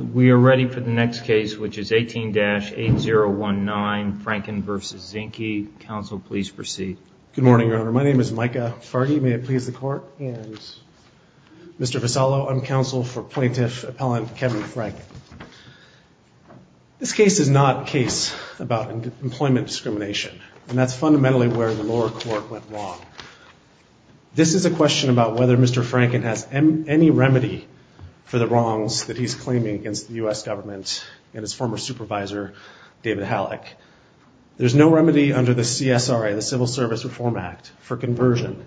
We are ready for the next case, which is 18-8019, Franken v. Zinke. Counsel, please proceed. Good morning, Your Honor. My name is Micah Farge. May it please the Court? Mr. Vassallo, I'm counsel for Plaintiff Appellant Kevin Franken. This case is not a case about employment discrimination, and that's fundamentally where the lower court went wrong. This is a question about whether Mr. Franken has any remedy for the wrongs that he's claiming against the U.S. government and his former supervisor, David Halleck. There's no remedy under the CSRA, the Civil Service Reform Act, for conversion.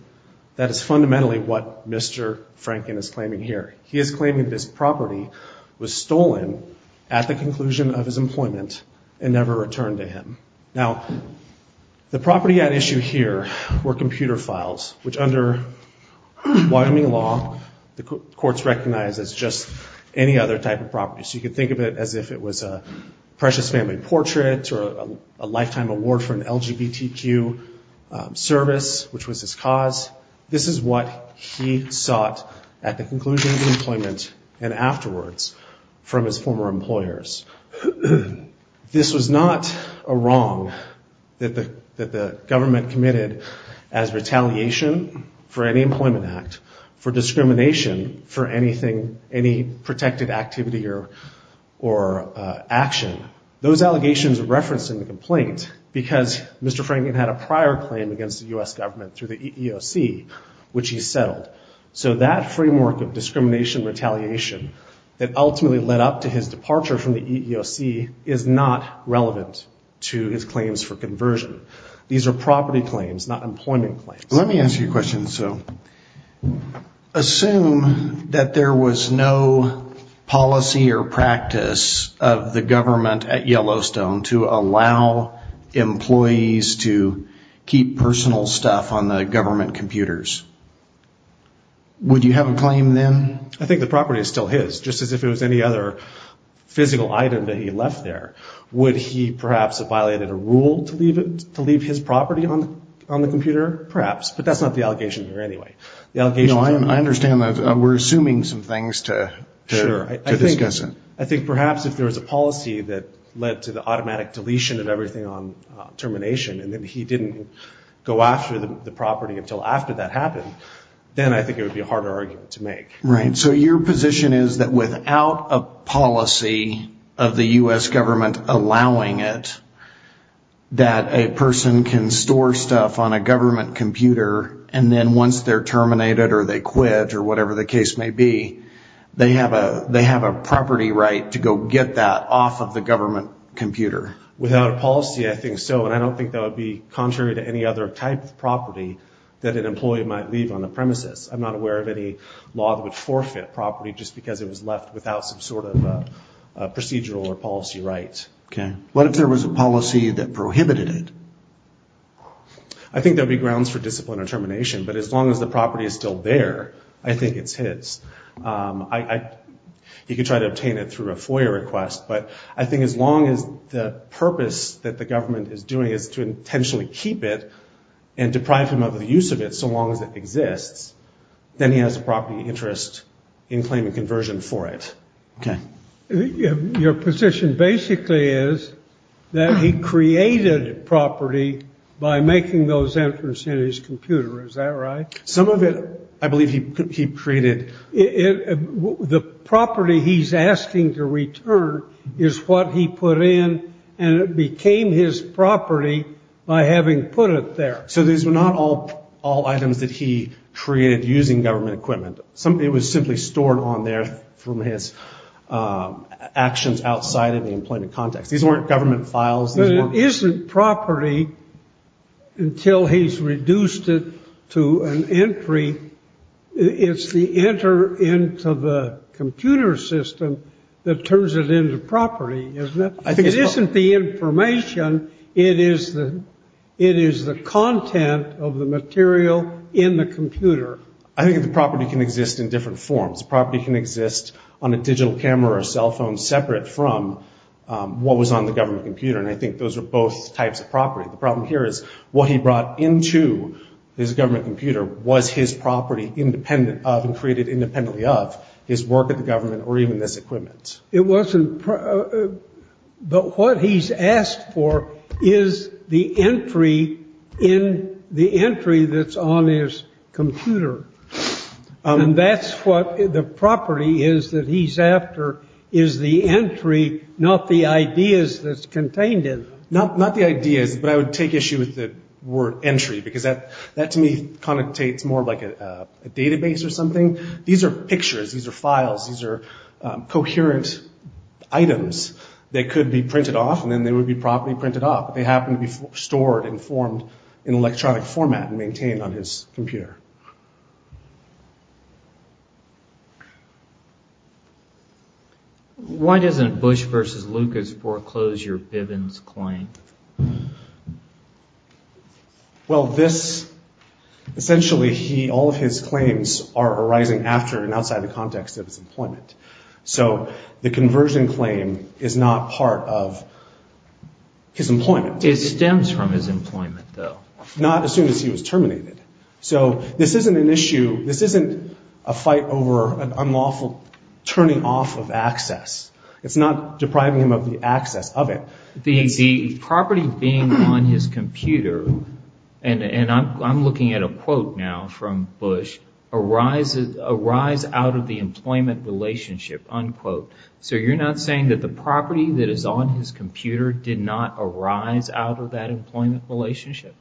That is fundamentally what Mr. Franken is claiming here. He is claiming that his property was stolen at the conclusion of his employment and never returned to him. Now, the property at issue here were computer files, which under Wyoming law, the courts recognize as just any other type of property. So you could think of it as if it was a precious family portrait or a lifetime award for an LGBTQ service, which was his cause. This is what he sought at the conclusion of employment and afterwards from his former employers. This was not a wrong that the government committed as retaliation for any employment act, for discrimination for anything, any protected activity or action. Those allegations are referenced in the complaint because Mr. Franken had a prior claim against the U.S. government through the EEOC, which he settled. So that framework of discrimination retaliation that ultimately led up to his departure from the EEOC is not relevant to his claims for conversion. These are property claims, not employment claims. Let me ask you a question. So assume that there was no policy or practice of the government at Yellowstone to allow employees to keep personal stuff on the government computers. Would you have a claim then? I think the property is still his, just as if it was any other physical item that he left there. Would he perhaps have violated a rule to leave his property on the computer? Perhaps. But that's not the allegation here anyway. I understand that. We're assuming some things to discuss it. I think perhaps if there was a policy that led to the automatic deletion of everything on termination, and then he didn't go after the property until after that happened, then I think it would be a harder argument to make. Right. So your position is that without a policy of the U.S. government allowing it, that a person can store stuff on a government computer, and then once they're terminated or they quit or whatever the case may be, they have a property right to go get that off of the government computer? Without a policy, I think so. And I don't think that would be contrary to any other type of property that an employee might leave on the premises. I'm not aware of any law that would forfeit property just because it was left without some sort of procedural or policy right. Okay. What if there was a policy that prohibited it? I think there would be grounds for discipline or termination, but as long as the property is still there, I think it's his. He could try to obtain it through a FOIA request, but I think as long as the purpose that the government is doing is to intentionally keep it and deprive him of the use of it so long as it exists, then he has a property interest in claiming conversion for it. Okay. Your position basically is that he created property by making those entrants in his computer. Is that right? Some of it I believe he created. The property he's asking to return is what he put in, and it became his property by having put it there. So these were not all items that he created using government equipment. It was simply stored on there from his actions outside of the employment context. These weren't government files. But it isn't property until he's reduced it to an entry. It's the enter into the computer system that turns it into property, isn't it? It isn't the information. It is the content of the material in the computer. I think the property can exist in different forms. Property can exist on a digital camera or cell phone separate from what was on the government computer, and I think those are both types of property. The problem here is what he brought into his government computer was his property independent of and created independently of his work at the government or even this equipment. But what he's asked for is the entry that's on his computer. And that's what the property is that he's after is the entry, not the ideas that's contained in it. Not the ideas, but I would take issue with the word entry because that to me connotates more like a database or something. These are pictures. These are files. These are coherent items that could be printed off, and then they would be properly printed off. They happen to be stored and formed in electronic format and maintained on his computer. Why doesn't Bush versus Lucas foreclose your Bivens claim? Well, this, essentially all of his claims are arising after and outside the context of his employment. So the conversion claim is not part of his employment. It stems from his employment though. Not as soon as he was terminated. So this isn't an issue, this isn't a fight over an unlawful turning off of access. It's not depriving him of the access of it. The property being on his computer, and I'm looking at a quote now from Bush, arises out of the employment relationship, unquote. So you're not saying that the property that is on his computer did not arise out of that employment relationship?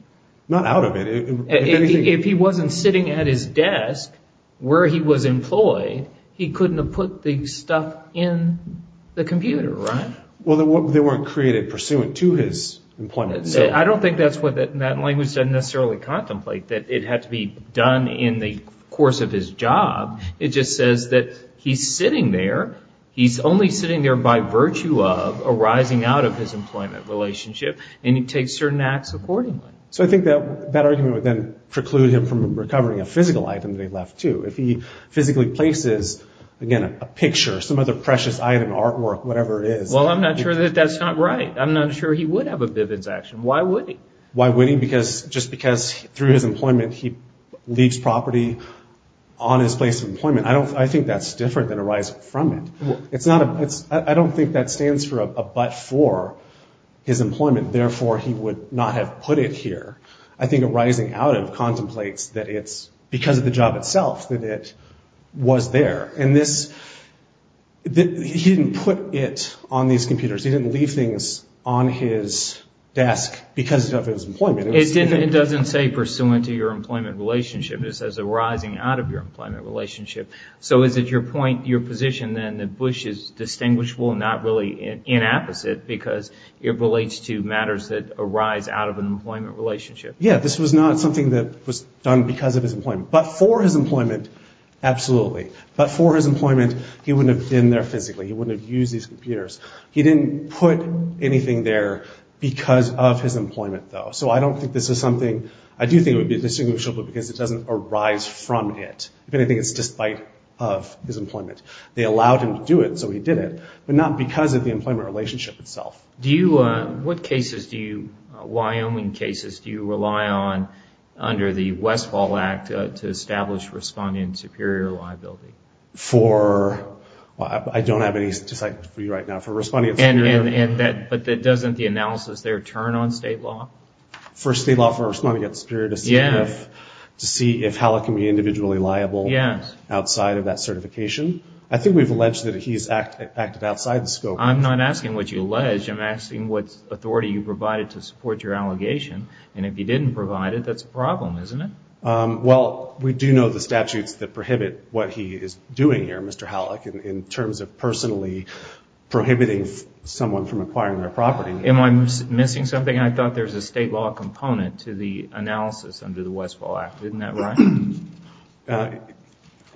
Not out of it. If he wasn't sitting at his desk where he was employed, he couldn't have put the stuff in the computer, right? Well, they weren't created pursuant to his employment. I don't think that language doesn't necessarily contemplate that it had to be done in the course of his job. It just says that he's sitting there, he's only sitting there by virtue of arising out of his employment relationship, and he takes certain acts accordingly. So I think that argument would then preclude him from recovering a physical item that he left too. If he physically places, again, a picture, some other precious item, artwork, whatever it is. Well, I'm not sure that that's not right. I'm not sure he would have a vivid action. Why would he? Why would he? Just because through his employment he leaves property on his place of employment. I think that's different than arising from it. I don't think that stands for a but for his employment. Therefore, he would not have put it here. I think arising out of contemplates that it's because of the job itself that it was there. And he didn't put it on these computers. He didn't leave things on his desk because of his employment. It doesn't say pursuant to your employment relationship. It says arising out of your employment relationship. So is it your point, your position, then, that Bush is distinguishable and not really inapposite because it relates to matters that arise out of an employment relationship? Yeah, this was not something that was done because of his employment. But for his employment, absolutely. But for his employment, he wouldn't have been there physically. He wouldn't have used these computers. He didn't put anything there because of his employment, though. So I don't think this is something. I do think it would be distinguishable because it doesn't arise from it. If anything, it's despite of his employment. They allowed him to do it, so he did it, but not because of the employment relationship itself. Do you, what cases do you, Wyoming cases, do you rely on under the Westfall Act to establish respondent superior liability? For, I don't have any statistics for you right now. For respondent superior. But doesn't the analysis there turn on state law? For state law for respondent superior to see how it can be individually liable outside of that certification. I think we've alleged that he's acted outside the scope. I'm not asking what you alleged. I'm asking what authority you provided to support your allegation. And if you didn't provide it, that's a problem, isn't it? Well, we do know the statutes that prohibit what he is doing here, Mr. Halleck, in terms of personally prohibiting someone from acquiring their property. Am I missing something? I thought there was a state law component to the analysis under the Westfall Act. Isn't that right?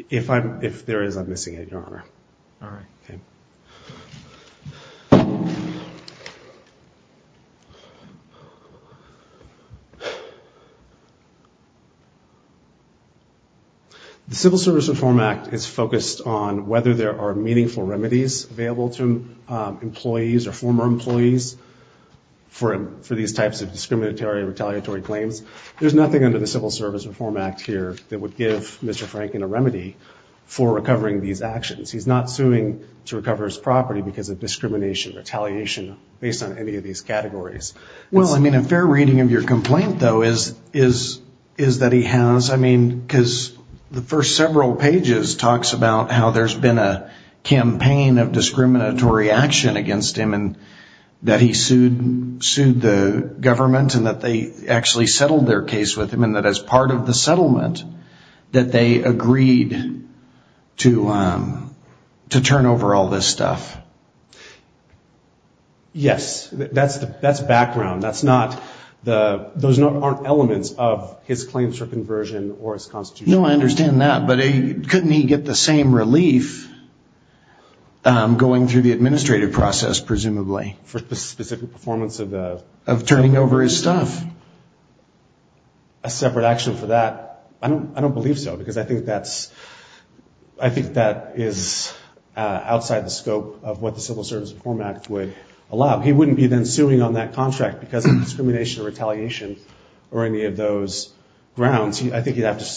If there is, I'm missing it, Your Honor. All right. Okay. The Civil Service Reform Act is focused on whether there are meaningful remedies available to employees or former employees for these types of discriminatory retaliatory claims. There's nothing under the Civil Service Reform Act here that would give Mr. Franken a remedy for recovering these actions. He's not suing to recover his property because of discrimination, retaliation, based on any of these categories. Well, I mean, a fair reading of your complaint, though, is that he has, I mean, because the first several pages talks about how there's been a campaign of discriminatory action against him and that he sued the government and that they actually settled their case with him and that as part of the settlement that they agreed to turn over all this stuff. Yes, that's background. Those aren't elements of his claims for conversion or his constitution. No, I understand that. But couldn't he get the same relief going through the administrative process, presumably? For the specific performance of the? Of turning over his stuff. A separate action for that? I don't believe so because I think that is outside the scope of what the Civil Service Reform Act would allow. He wouldn't be then suing on that contract because of discrimination or retaliation or any of those grounds. I think he'd have to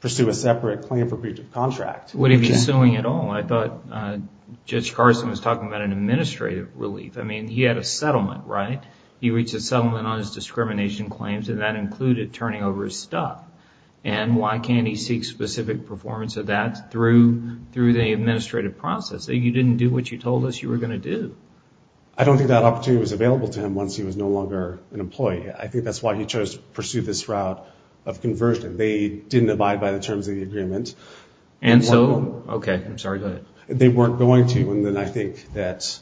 pursue a separate claim for breach of contract. Would he be suing at all? I thought Judge Carson was talking about an administrative relief. I mean, he had a settlement, right? He reached a settlement on his discrimination claims and that included turning over his stuff. And why can't he seek specific performance of that through the administrative process? You didn't do what you told us you were going to do. I don't think that opportunity was available to him once he was no longer an employee. I think that's why he chose to pursue this route of conversion. They didn't abide by the terms of the agreement. And so, okay, I'm sorry, go ahead. They weren't going to. And then I think that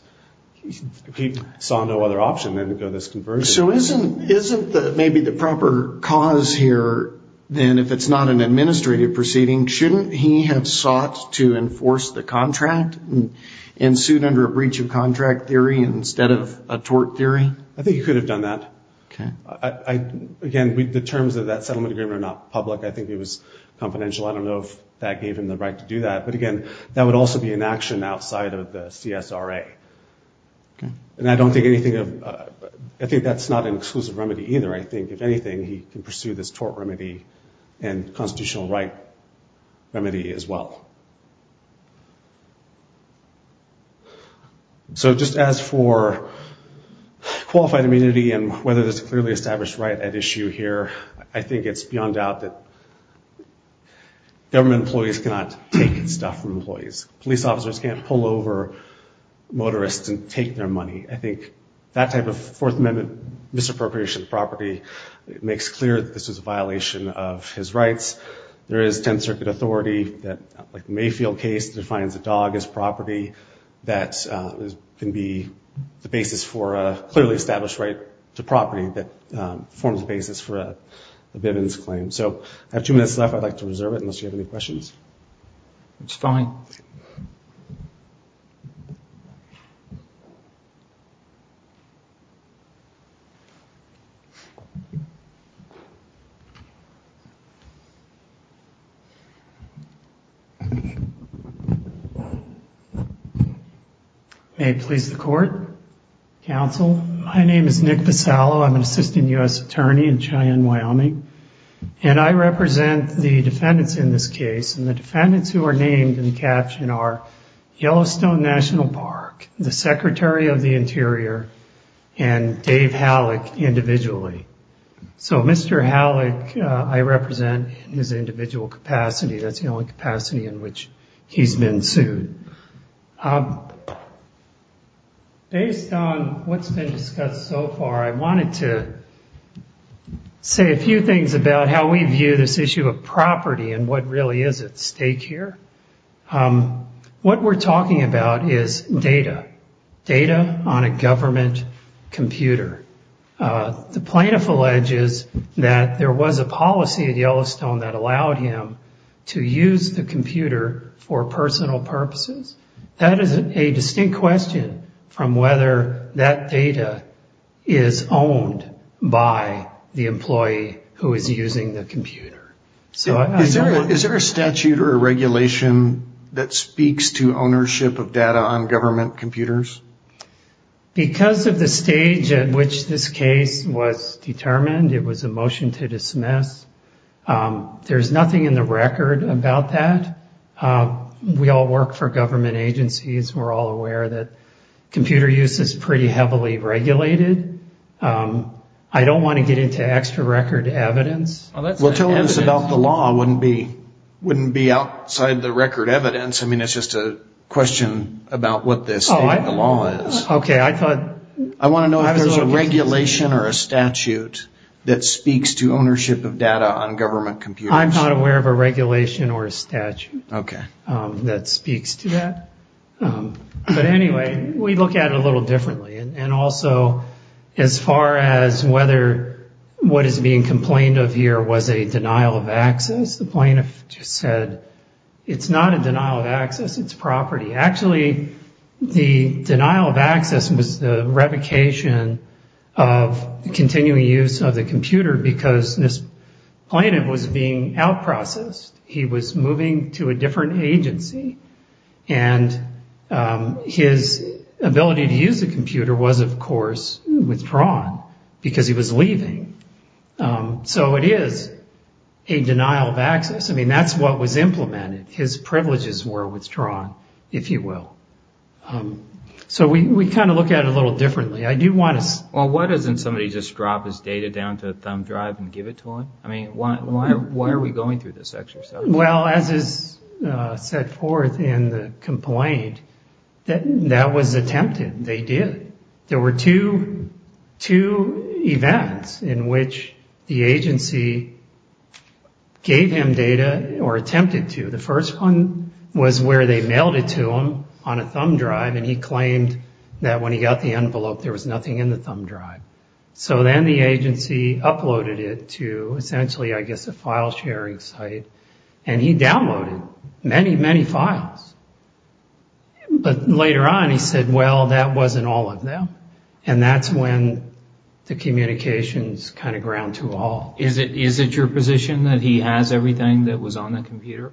he saw no other option than to go this conversion. So isn't maybe the proper cause here then if it's not an administrative proceeding, shouldn't he have sought to enforce the contract and sued under a breach of contract theory instead of a tort theory? I think he could have done that. Okay. Again, the terms of that settlement agreement are not public. I think it was confidential. I don't know if that gave him the right to do that. But, again, that would also be an action outside of the CSRA. And I don't think anything of – I think that's not an exclusive remedy either. I think, if anything, he can pursue this tort remedy and constitutional right remedy as well. So just as for qualified immunity and whether there's a clearly established right at issue here, I think it's beyond doubt that government employees cannot take stuff from employees. Police officers can't pull over motorists and take their money. I think that type of Fourth Amendment misappropriation of property makes clear that this is a violation of his rights. There is 10th Circuit authority that, like the Mayfield case, defines a dog as property. That can be the basis for a clearly established right to property that forms the basis for a Bivens claim. So I have two minutes left. I'd like to reserve it unless you have any questions. It's fine. May it please the Court, Counsel. My name is Nick Vassallo. I'm an assistant U.S. attorney in Cheyenne, Wyoming. And I represent the defendants in this case. And the defendants who are named in the caption are Yellowstone National Park, the Secretary of the Interior, and Dave Halleck individually. So Mr. Halleck, I represent in his individual capacity. That's the only capacity in which he's been sued. Based on what's been discussed so far, I wanted to say a few things about how we view this issue of property and what really is at stake here. What we're talking about is data. Data on a government computer. The plaintiff alleges that there was a policy at Yellowstone that allowed him to use the computer for personal purposes. That is a distinct question from whether that data is owned by the employee who is using the computer. Is there a statute or a regulation that speaks to ownership of data on government computers? Because of the stage at which this case was determined, it was a motion to dismiss. There's nothing in the record about that. We all work for government agencies. We're all aware that computer use is pretty heavily regulated. I don't want to get into extra record evidence. Well, telling us about the law wouldn't be outside the record evidence. I mean, it's just a question about what the state of the law is. I want to know if there's a regulation or a statute that speaks to ownership of data on government computers. I'm not aware of a regulation or a statute that speaks to that. But anyway, we look at it a little differently. And also, as far as whether what is being complained of here was a denial of access, the plaintiff just said it's not a denial of access, it's property. Actually, the denial of access was the revocation of continuing use of the computer because this plaintiff was being outprocessed. He was moving to a different agency. And his ability to use the computer was, of course, withdrawn because he was leaving. So it is a denial of access. I mean, that's what was implemented. His privileges were withdrawn, if you will. So we kind of look at it a little differently. Well, why doesn't somebody just drop his data down to a thumb drive and give it to him? I mean, why are we going through this exercise? Well, as is set forth in the complaint, that was attempted. They did. There were two events in which the agency gave him data or attempted to. The first one was where they mailed it to him on a thumb drive, and he claimed that when he got the envelope, there was nothing in the thumb drive. So then the agency uploaded it to essentially, I guess, a file sharing site. And he downloaded many, many files. But later on, he said, well, that wasn't all of them. And that's when the communications kind of ground to a halt. Is it your position that he has everything that was on the computer?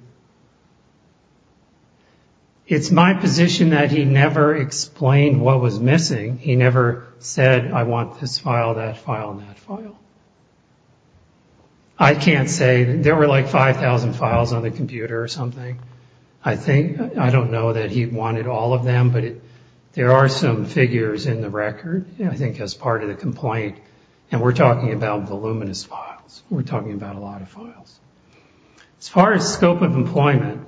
It's my position that he never explained what was missing. He never said, I want this file, that file, that file. I can't say. There were like 5,000 files on the computer or something. I don't know that he wanted all of them, but there are some figures in the record, I think, as part of the complaint. And we're talking about voluminous files. We're talking about a lot of files. As far as scope of employment,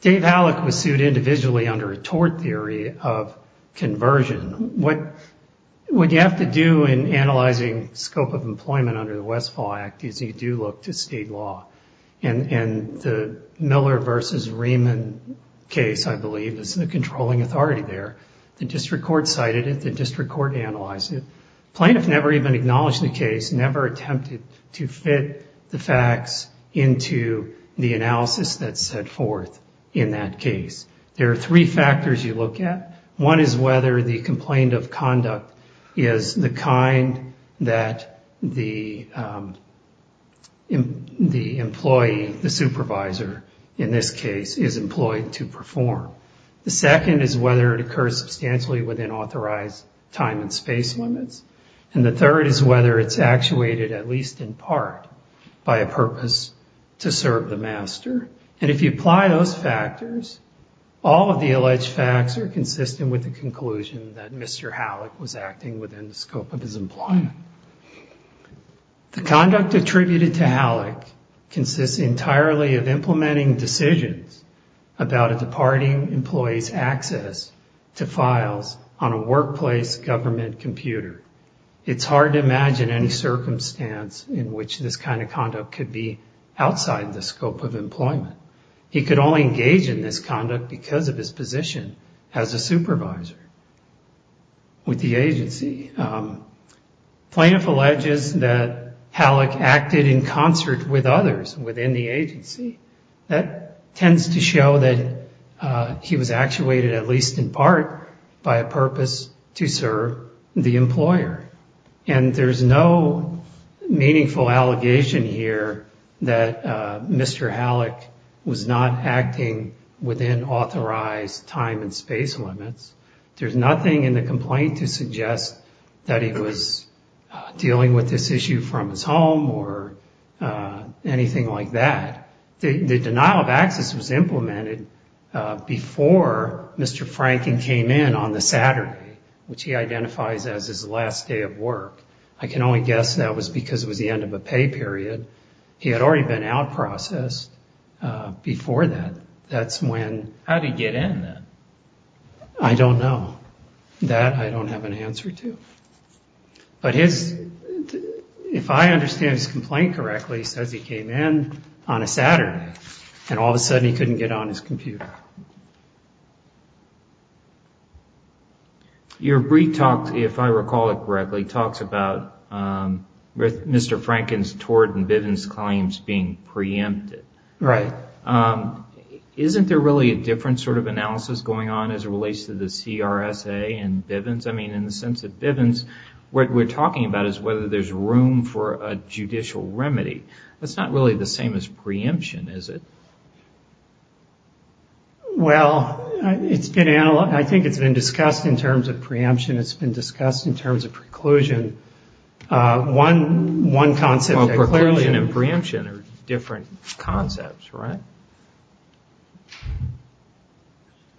Dave Hallock was sued individually under a tort theory of conversion. What you have to do in analyzing scope of employment under the Westfall Act is you do look to state law. And the Miller v. Rehman case, I believe, is the controlling authority there. The district court cited it. The district court analyzed it. Plaintiffs never even acknowledged the case, never attempted to fit the facts into the analysis that's set forth in that case. There are three factors you look at. One is whether the complaint of conduct is the kind that the employee, the supervisor in this case, is employed to perform. The second is whether it occurs substantially within authorized time and space limits. And the third is whether it's actuated at least in part by a purpose to serve the master. And if you apply those factors, all of the alleged facts are consistent with the conclusion that Mr. Hallock was acting within the scope of his employment. The conduct attributed to Hallock consists entirely of implementing decisions about a departing employee's access to files on a workplace government computer. It's hard to imagine any circumstance in which this kind of conduct could be outside the scope of employment. He could only engage in this conduct because of his position as a supervisor with the agency. Plaintiff alleges that Hallock acted in concert with others within the agency. That tends to show that he was actuated at least in part by a purpose to serve the employer. And there's no meaningful allegation here that Mr. Hallock was not acting within authorized time and space limits. There's nothing in the complaint to suggest that he was dealing with this issue from his home or anything like that. The denial of access was implemented before Mr. Franken came in on the Saturday, which he identifies as his last day of work. I can only guess that was because it was the end of a pay period. He had already been out-processed before that. How did he get in then? I don't know. That I don't have an answer to. But if I understand his complaint correctly, he says he came in on a Saturday and all of a sudden he couldn't get on his computer. Your brief talk, if I recall it correctly, talks about Mr. Franken's tort and Bivens' claims being preempted. Right. Isn't there really a different sort of analysis going on as it relates to the CRSA and Bivens? I mean, in the sense that Bivens, what we're talking about is whether there's room for a judicial remedy. That's not really the same as preemption, is it? Well, I think it's been discussed in terms of preemption. It's been discussed in terms of preclusion. One concept. Well, preclusion and preemption are different concepts, right?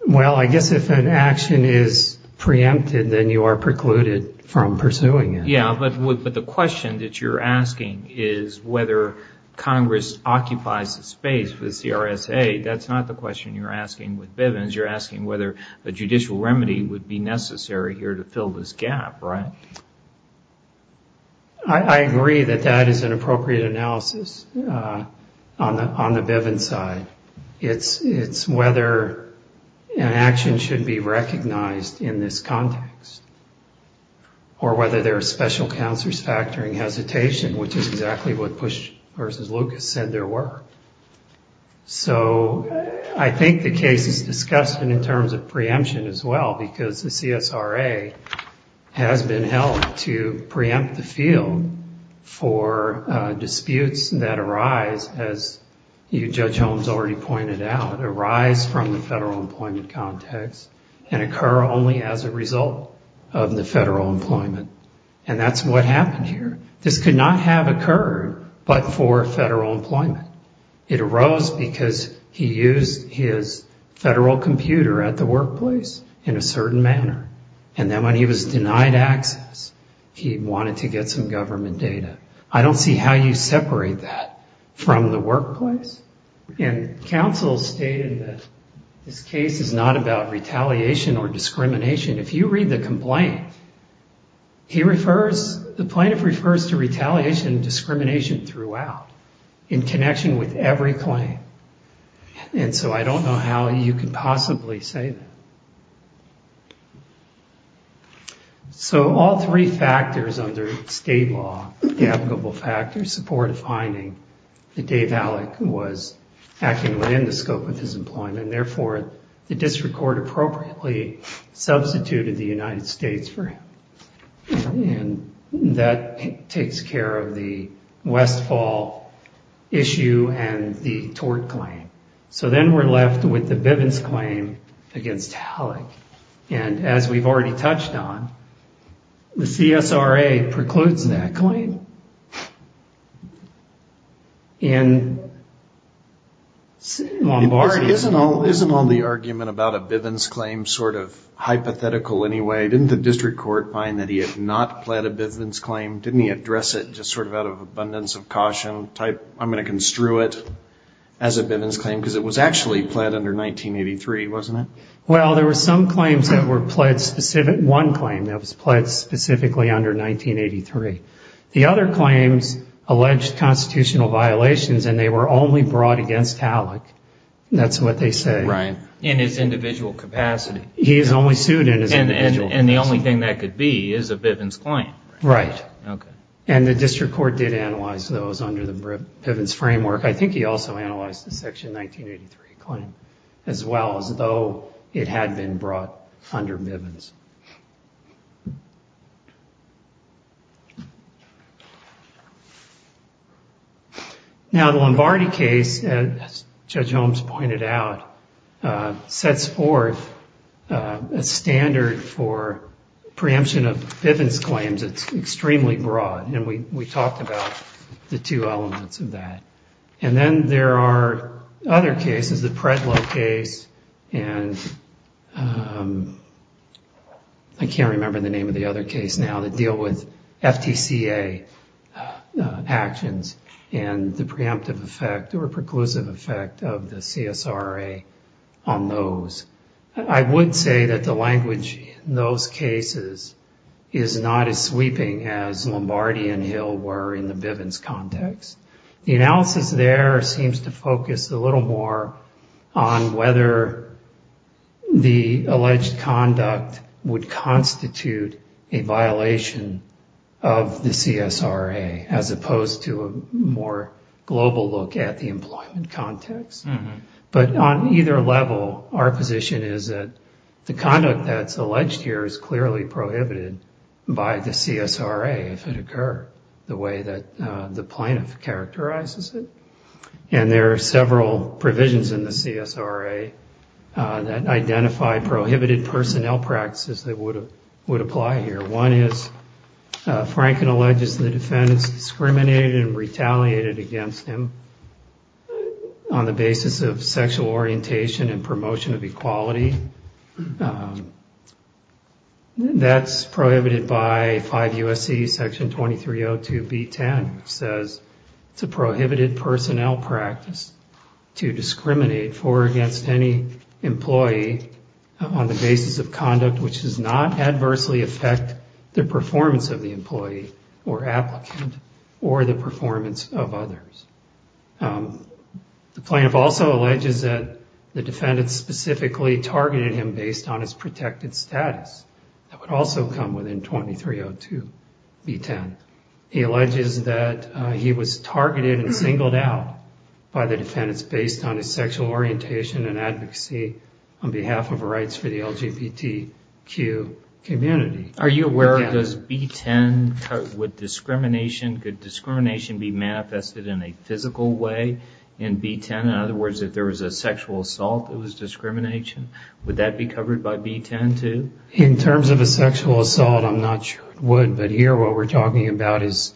Well, I guess if an action is preempted, then you are precluded from pursuing it. Yeah, but the question that you're asking is whether Congress occupies the space with CRSA. That's not the question you're asking with Bivens. You're asking whether a judicial remedy would be necessary here to fill this gap, right? I agree that that is an appropriate analysis on the Bivens side. It's whether an action should be recognized in this context or whether there are special counselors factoring hesitation, which is exactly what Bush versus Lucas said there were. So I think the case is discussed in terms of preemption as well, because the CSRA has been held to preempt the field for disputes that arise, as you, Judge Holmes, already pointed out, arise from the federal employment context and occur only as a result of the federal employment. And that's what happened here. This could not have occurred but for federal employment. It arose because he used his federal computer at the workplace in a certain manner, and then when he was denied access, he wanted to get some government data. I don't see how you separate that from the workplace. And counsel stated that this case is not about retaliation or discrimination. If you read the complaint, the plaintiff refers to retaliation and discrimination throughout, in connection with every claim. And so I don't know how you could possibly say that. So all three factors under state law, the applicable factors, support a finding that Dave Allick was acting within the scope of his employment, and therefore the district court appropriately substituted the United States for him. And that takes care of the Westfall issue and the tort claim. So then we're left with the Bivens claim against Allick. And as we've already touched on, the CSRA precludes that claim. And Lombardi. Isn't all the argument about a Bivens claim sort of hypothetical anyway? Didn't the district court find that he had not pled a Bivens claim? Didn't he address it just sort of out of abundance of caution, type I'm going to construe it as a Bivens claim, because it was actually pled under 1983, wasn't it? Well, there were some claims that were pled specific, one claim that was pled specifically under 1983. The other claims alleged constitutional violations, and they were only brought against Allick. That's what they say. Right. In his individual capacity. He is only sued in his individual capacity. And the only thing that could be is a Bivens claim. Right. Okay. And the district court did analyze those under the Bivens framework. I think he also analyzed the section 1983 claim as well, as though it had been brought under Bivens. Now the Lombardi case, as Judge Holmes pointed out, sets forth a standard for preemption of Bivens claims. It's extremely broad. And we talked about the two elements of that. And then there are other cases, the Predlow case, and I can't remember the name of the other case now, that deal with FTCA actions and the preemptive effect or preclusive effect of the CSRA on those. I would say that the language in those cases is not as sweeping as Lombardi and Hill were in the Bivens context. The analysis there seems to focus a little more on whether the alleged conduct would constitute a violation of the CSRA, as opposed to a more global look at the employment context. But on either level, our position is that the conduct that's alleged here is clearly prohibited by the CSRA if it occurred the way that the plaintiff characterizes it. And there are several provisions in the CSRA that identify prohibited personnel practices that would apply here. One is Franken alleges the defendant's discriminated and retaliated against him on the basis of sexual orientation and promotion of equality. That's prohibited by 5 U.S.C. Section 2302B10, which says it's a prohibited personnel practice to discriminate for or against any employee on the basis of conduct which does not adversely affect the performance of the employee or applicant or the performance of others. The plaintiff also alleges that the defendant specifically targeted him based on his protected status. That would also come within 2302B10. He alleges that he was targeted and singled out by the defendants based on his sexual orientation and advocacy on behalf of rights for the LGBTQ community. Are you aware of does B10, would discrimination, could discrimination be manifested in a physical way in B10? In other words, if there was a sexual assault, it was discrimination. Would that be covered by B10 too? In terms of a sexual assault, I'm not sure it would. But here what we're talking about is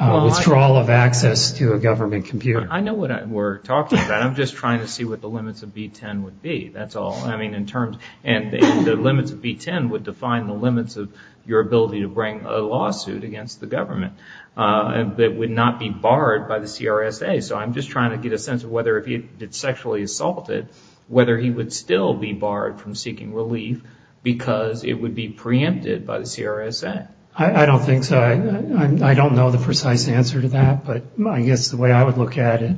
withdrawal of access to a government computer. I know what we're talking about. I'm just trying to see what the limits of B10 would be. That's all. The limits of B10 would define the limits of your ability to bring a lawsuit against the government that would not be barred by the CRSA. So I'm just trying to get a sense of whether if it's sexually assaulted, whether he would still be barred from seeking relief because it would be preempted by the CRSA. I don't think so. I don't know the precise answer to that. But I guess the way I would look at it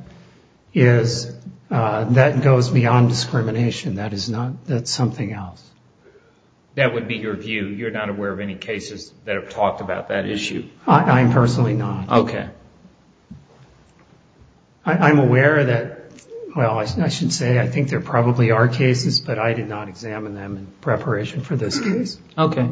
is that goes beyond discrimination. That's something else. That would be your view. You're not aware of any cases that have talked about that issue. I'm personally not. Okay. I'm aware that, well, I should say I think there probably are cases, but I did not examine them in preparation for this case. Okay.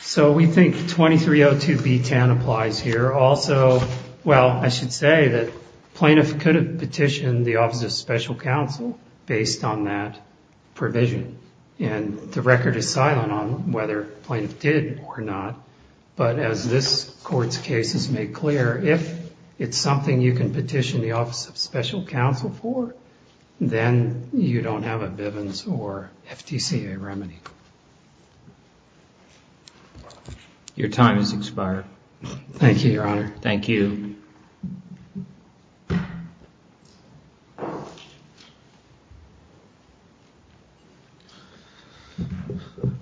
So we think 2302B10 applies here. There are also, well, I should say that plaintiff could have petitioned the Office of Special Counsel based on that provision. And the record is silent on whether plaintiff did or not. But as this Court's case has made clear, if it's something you can petition the Office of Special Counsel for, then you don't have a Bivens or FTCA remedy. Your time has expired. Thank you, Your Honor. Thank you.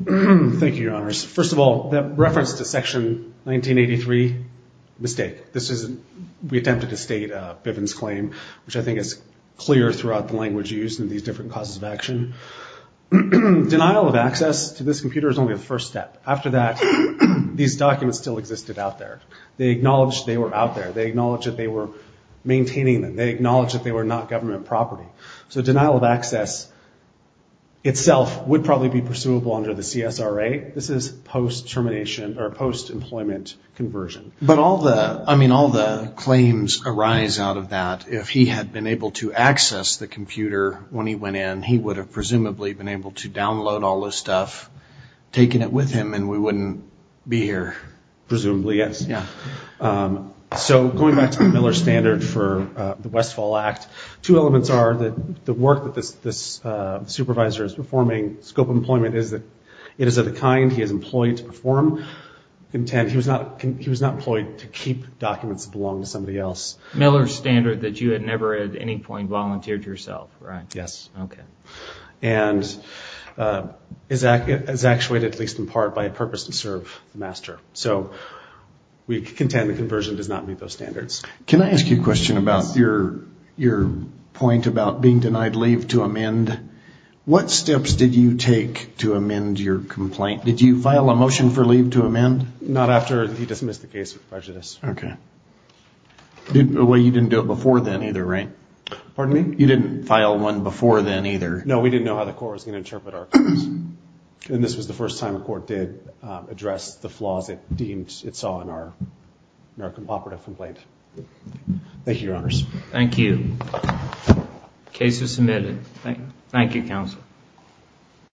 Thank you, Your Honors. First of all, that reference to Section 1983, mistake. We attempted to state Bivens' claim, which I think is clear throughout the language used in these different causes of action. Denial of access to this computer is only the first step. After that, these documents still existed out there. They acknowledged they were out there. They acknowledged that they were maintaining them. They acknowledged that they were not government property. So denial of access itself would probably be pursuable under the CSRA. This is post-termination or post-employment conversion. But all the claims arise out of that. If he had been able to access the computer when he went in, he would have presumably been able to download all this stuff, taken it with him, and we wouldn't be here. Presumably, yes. So going back to Miller's standard for the Westfall Act, two elements are that the work that this supervisor is performing, scope of employment is that it is of the kind he is employed to perform. He was not employed to keep documents that belonged to somebody else. Miller's standard that you had never at any point volunteered yourself, right? Yes. Okay. And is actuated, at least in part, by a purpose to serve the master. So we contend the conversion does not meet those standards. Can I ask you a question about your point about being denied leave to amend? What steps did you take to amend your complaint? Did you file a motion for leave to amend? Not after he dismissed the case of prejudice. Okay. Well, you didn't do it before then either, right? Pardon me? You didn't file one before then either. No, we didn't know how the court was going to interpret our case. And this was the first time a court did address the flaws it deemed it saw in our operative complaint. Thank you, Your Honors. Thank you. Case is submitted. Thank you, Counsel.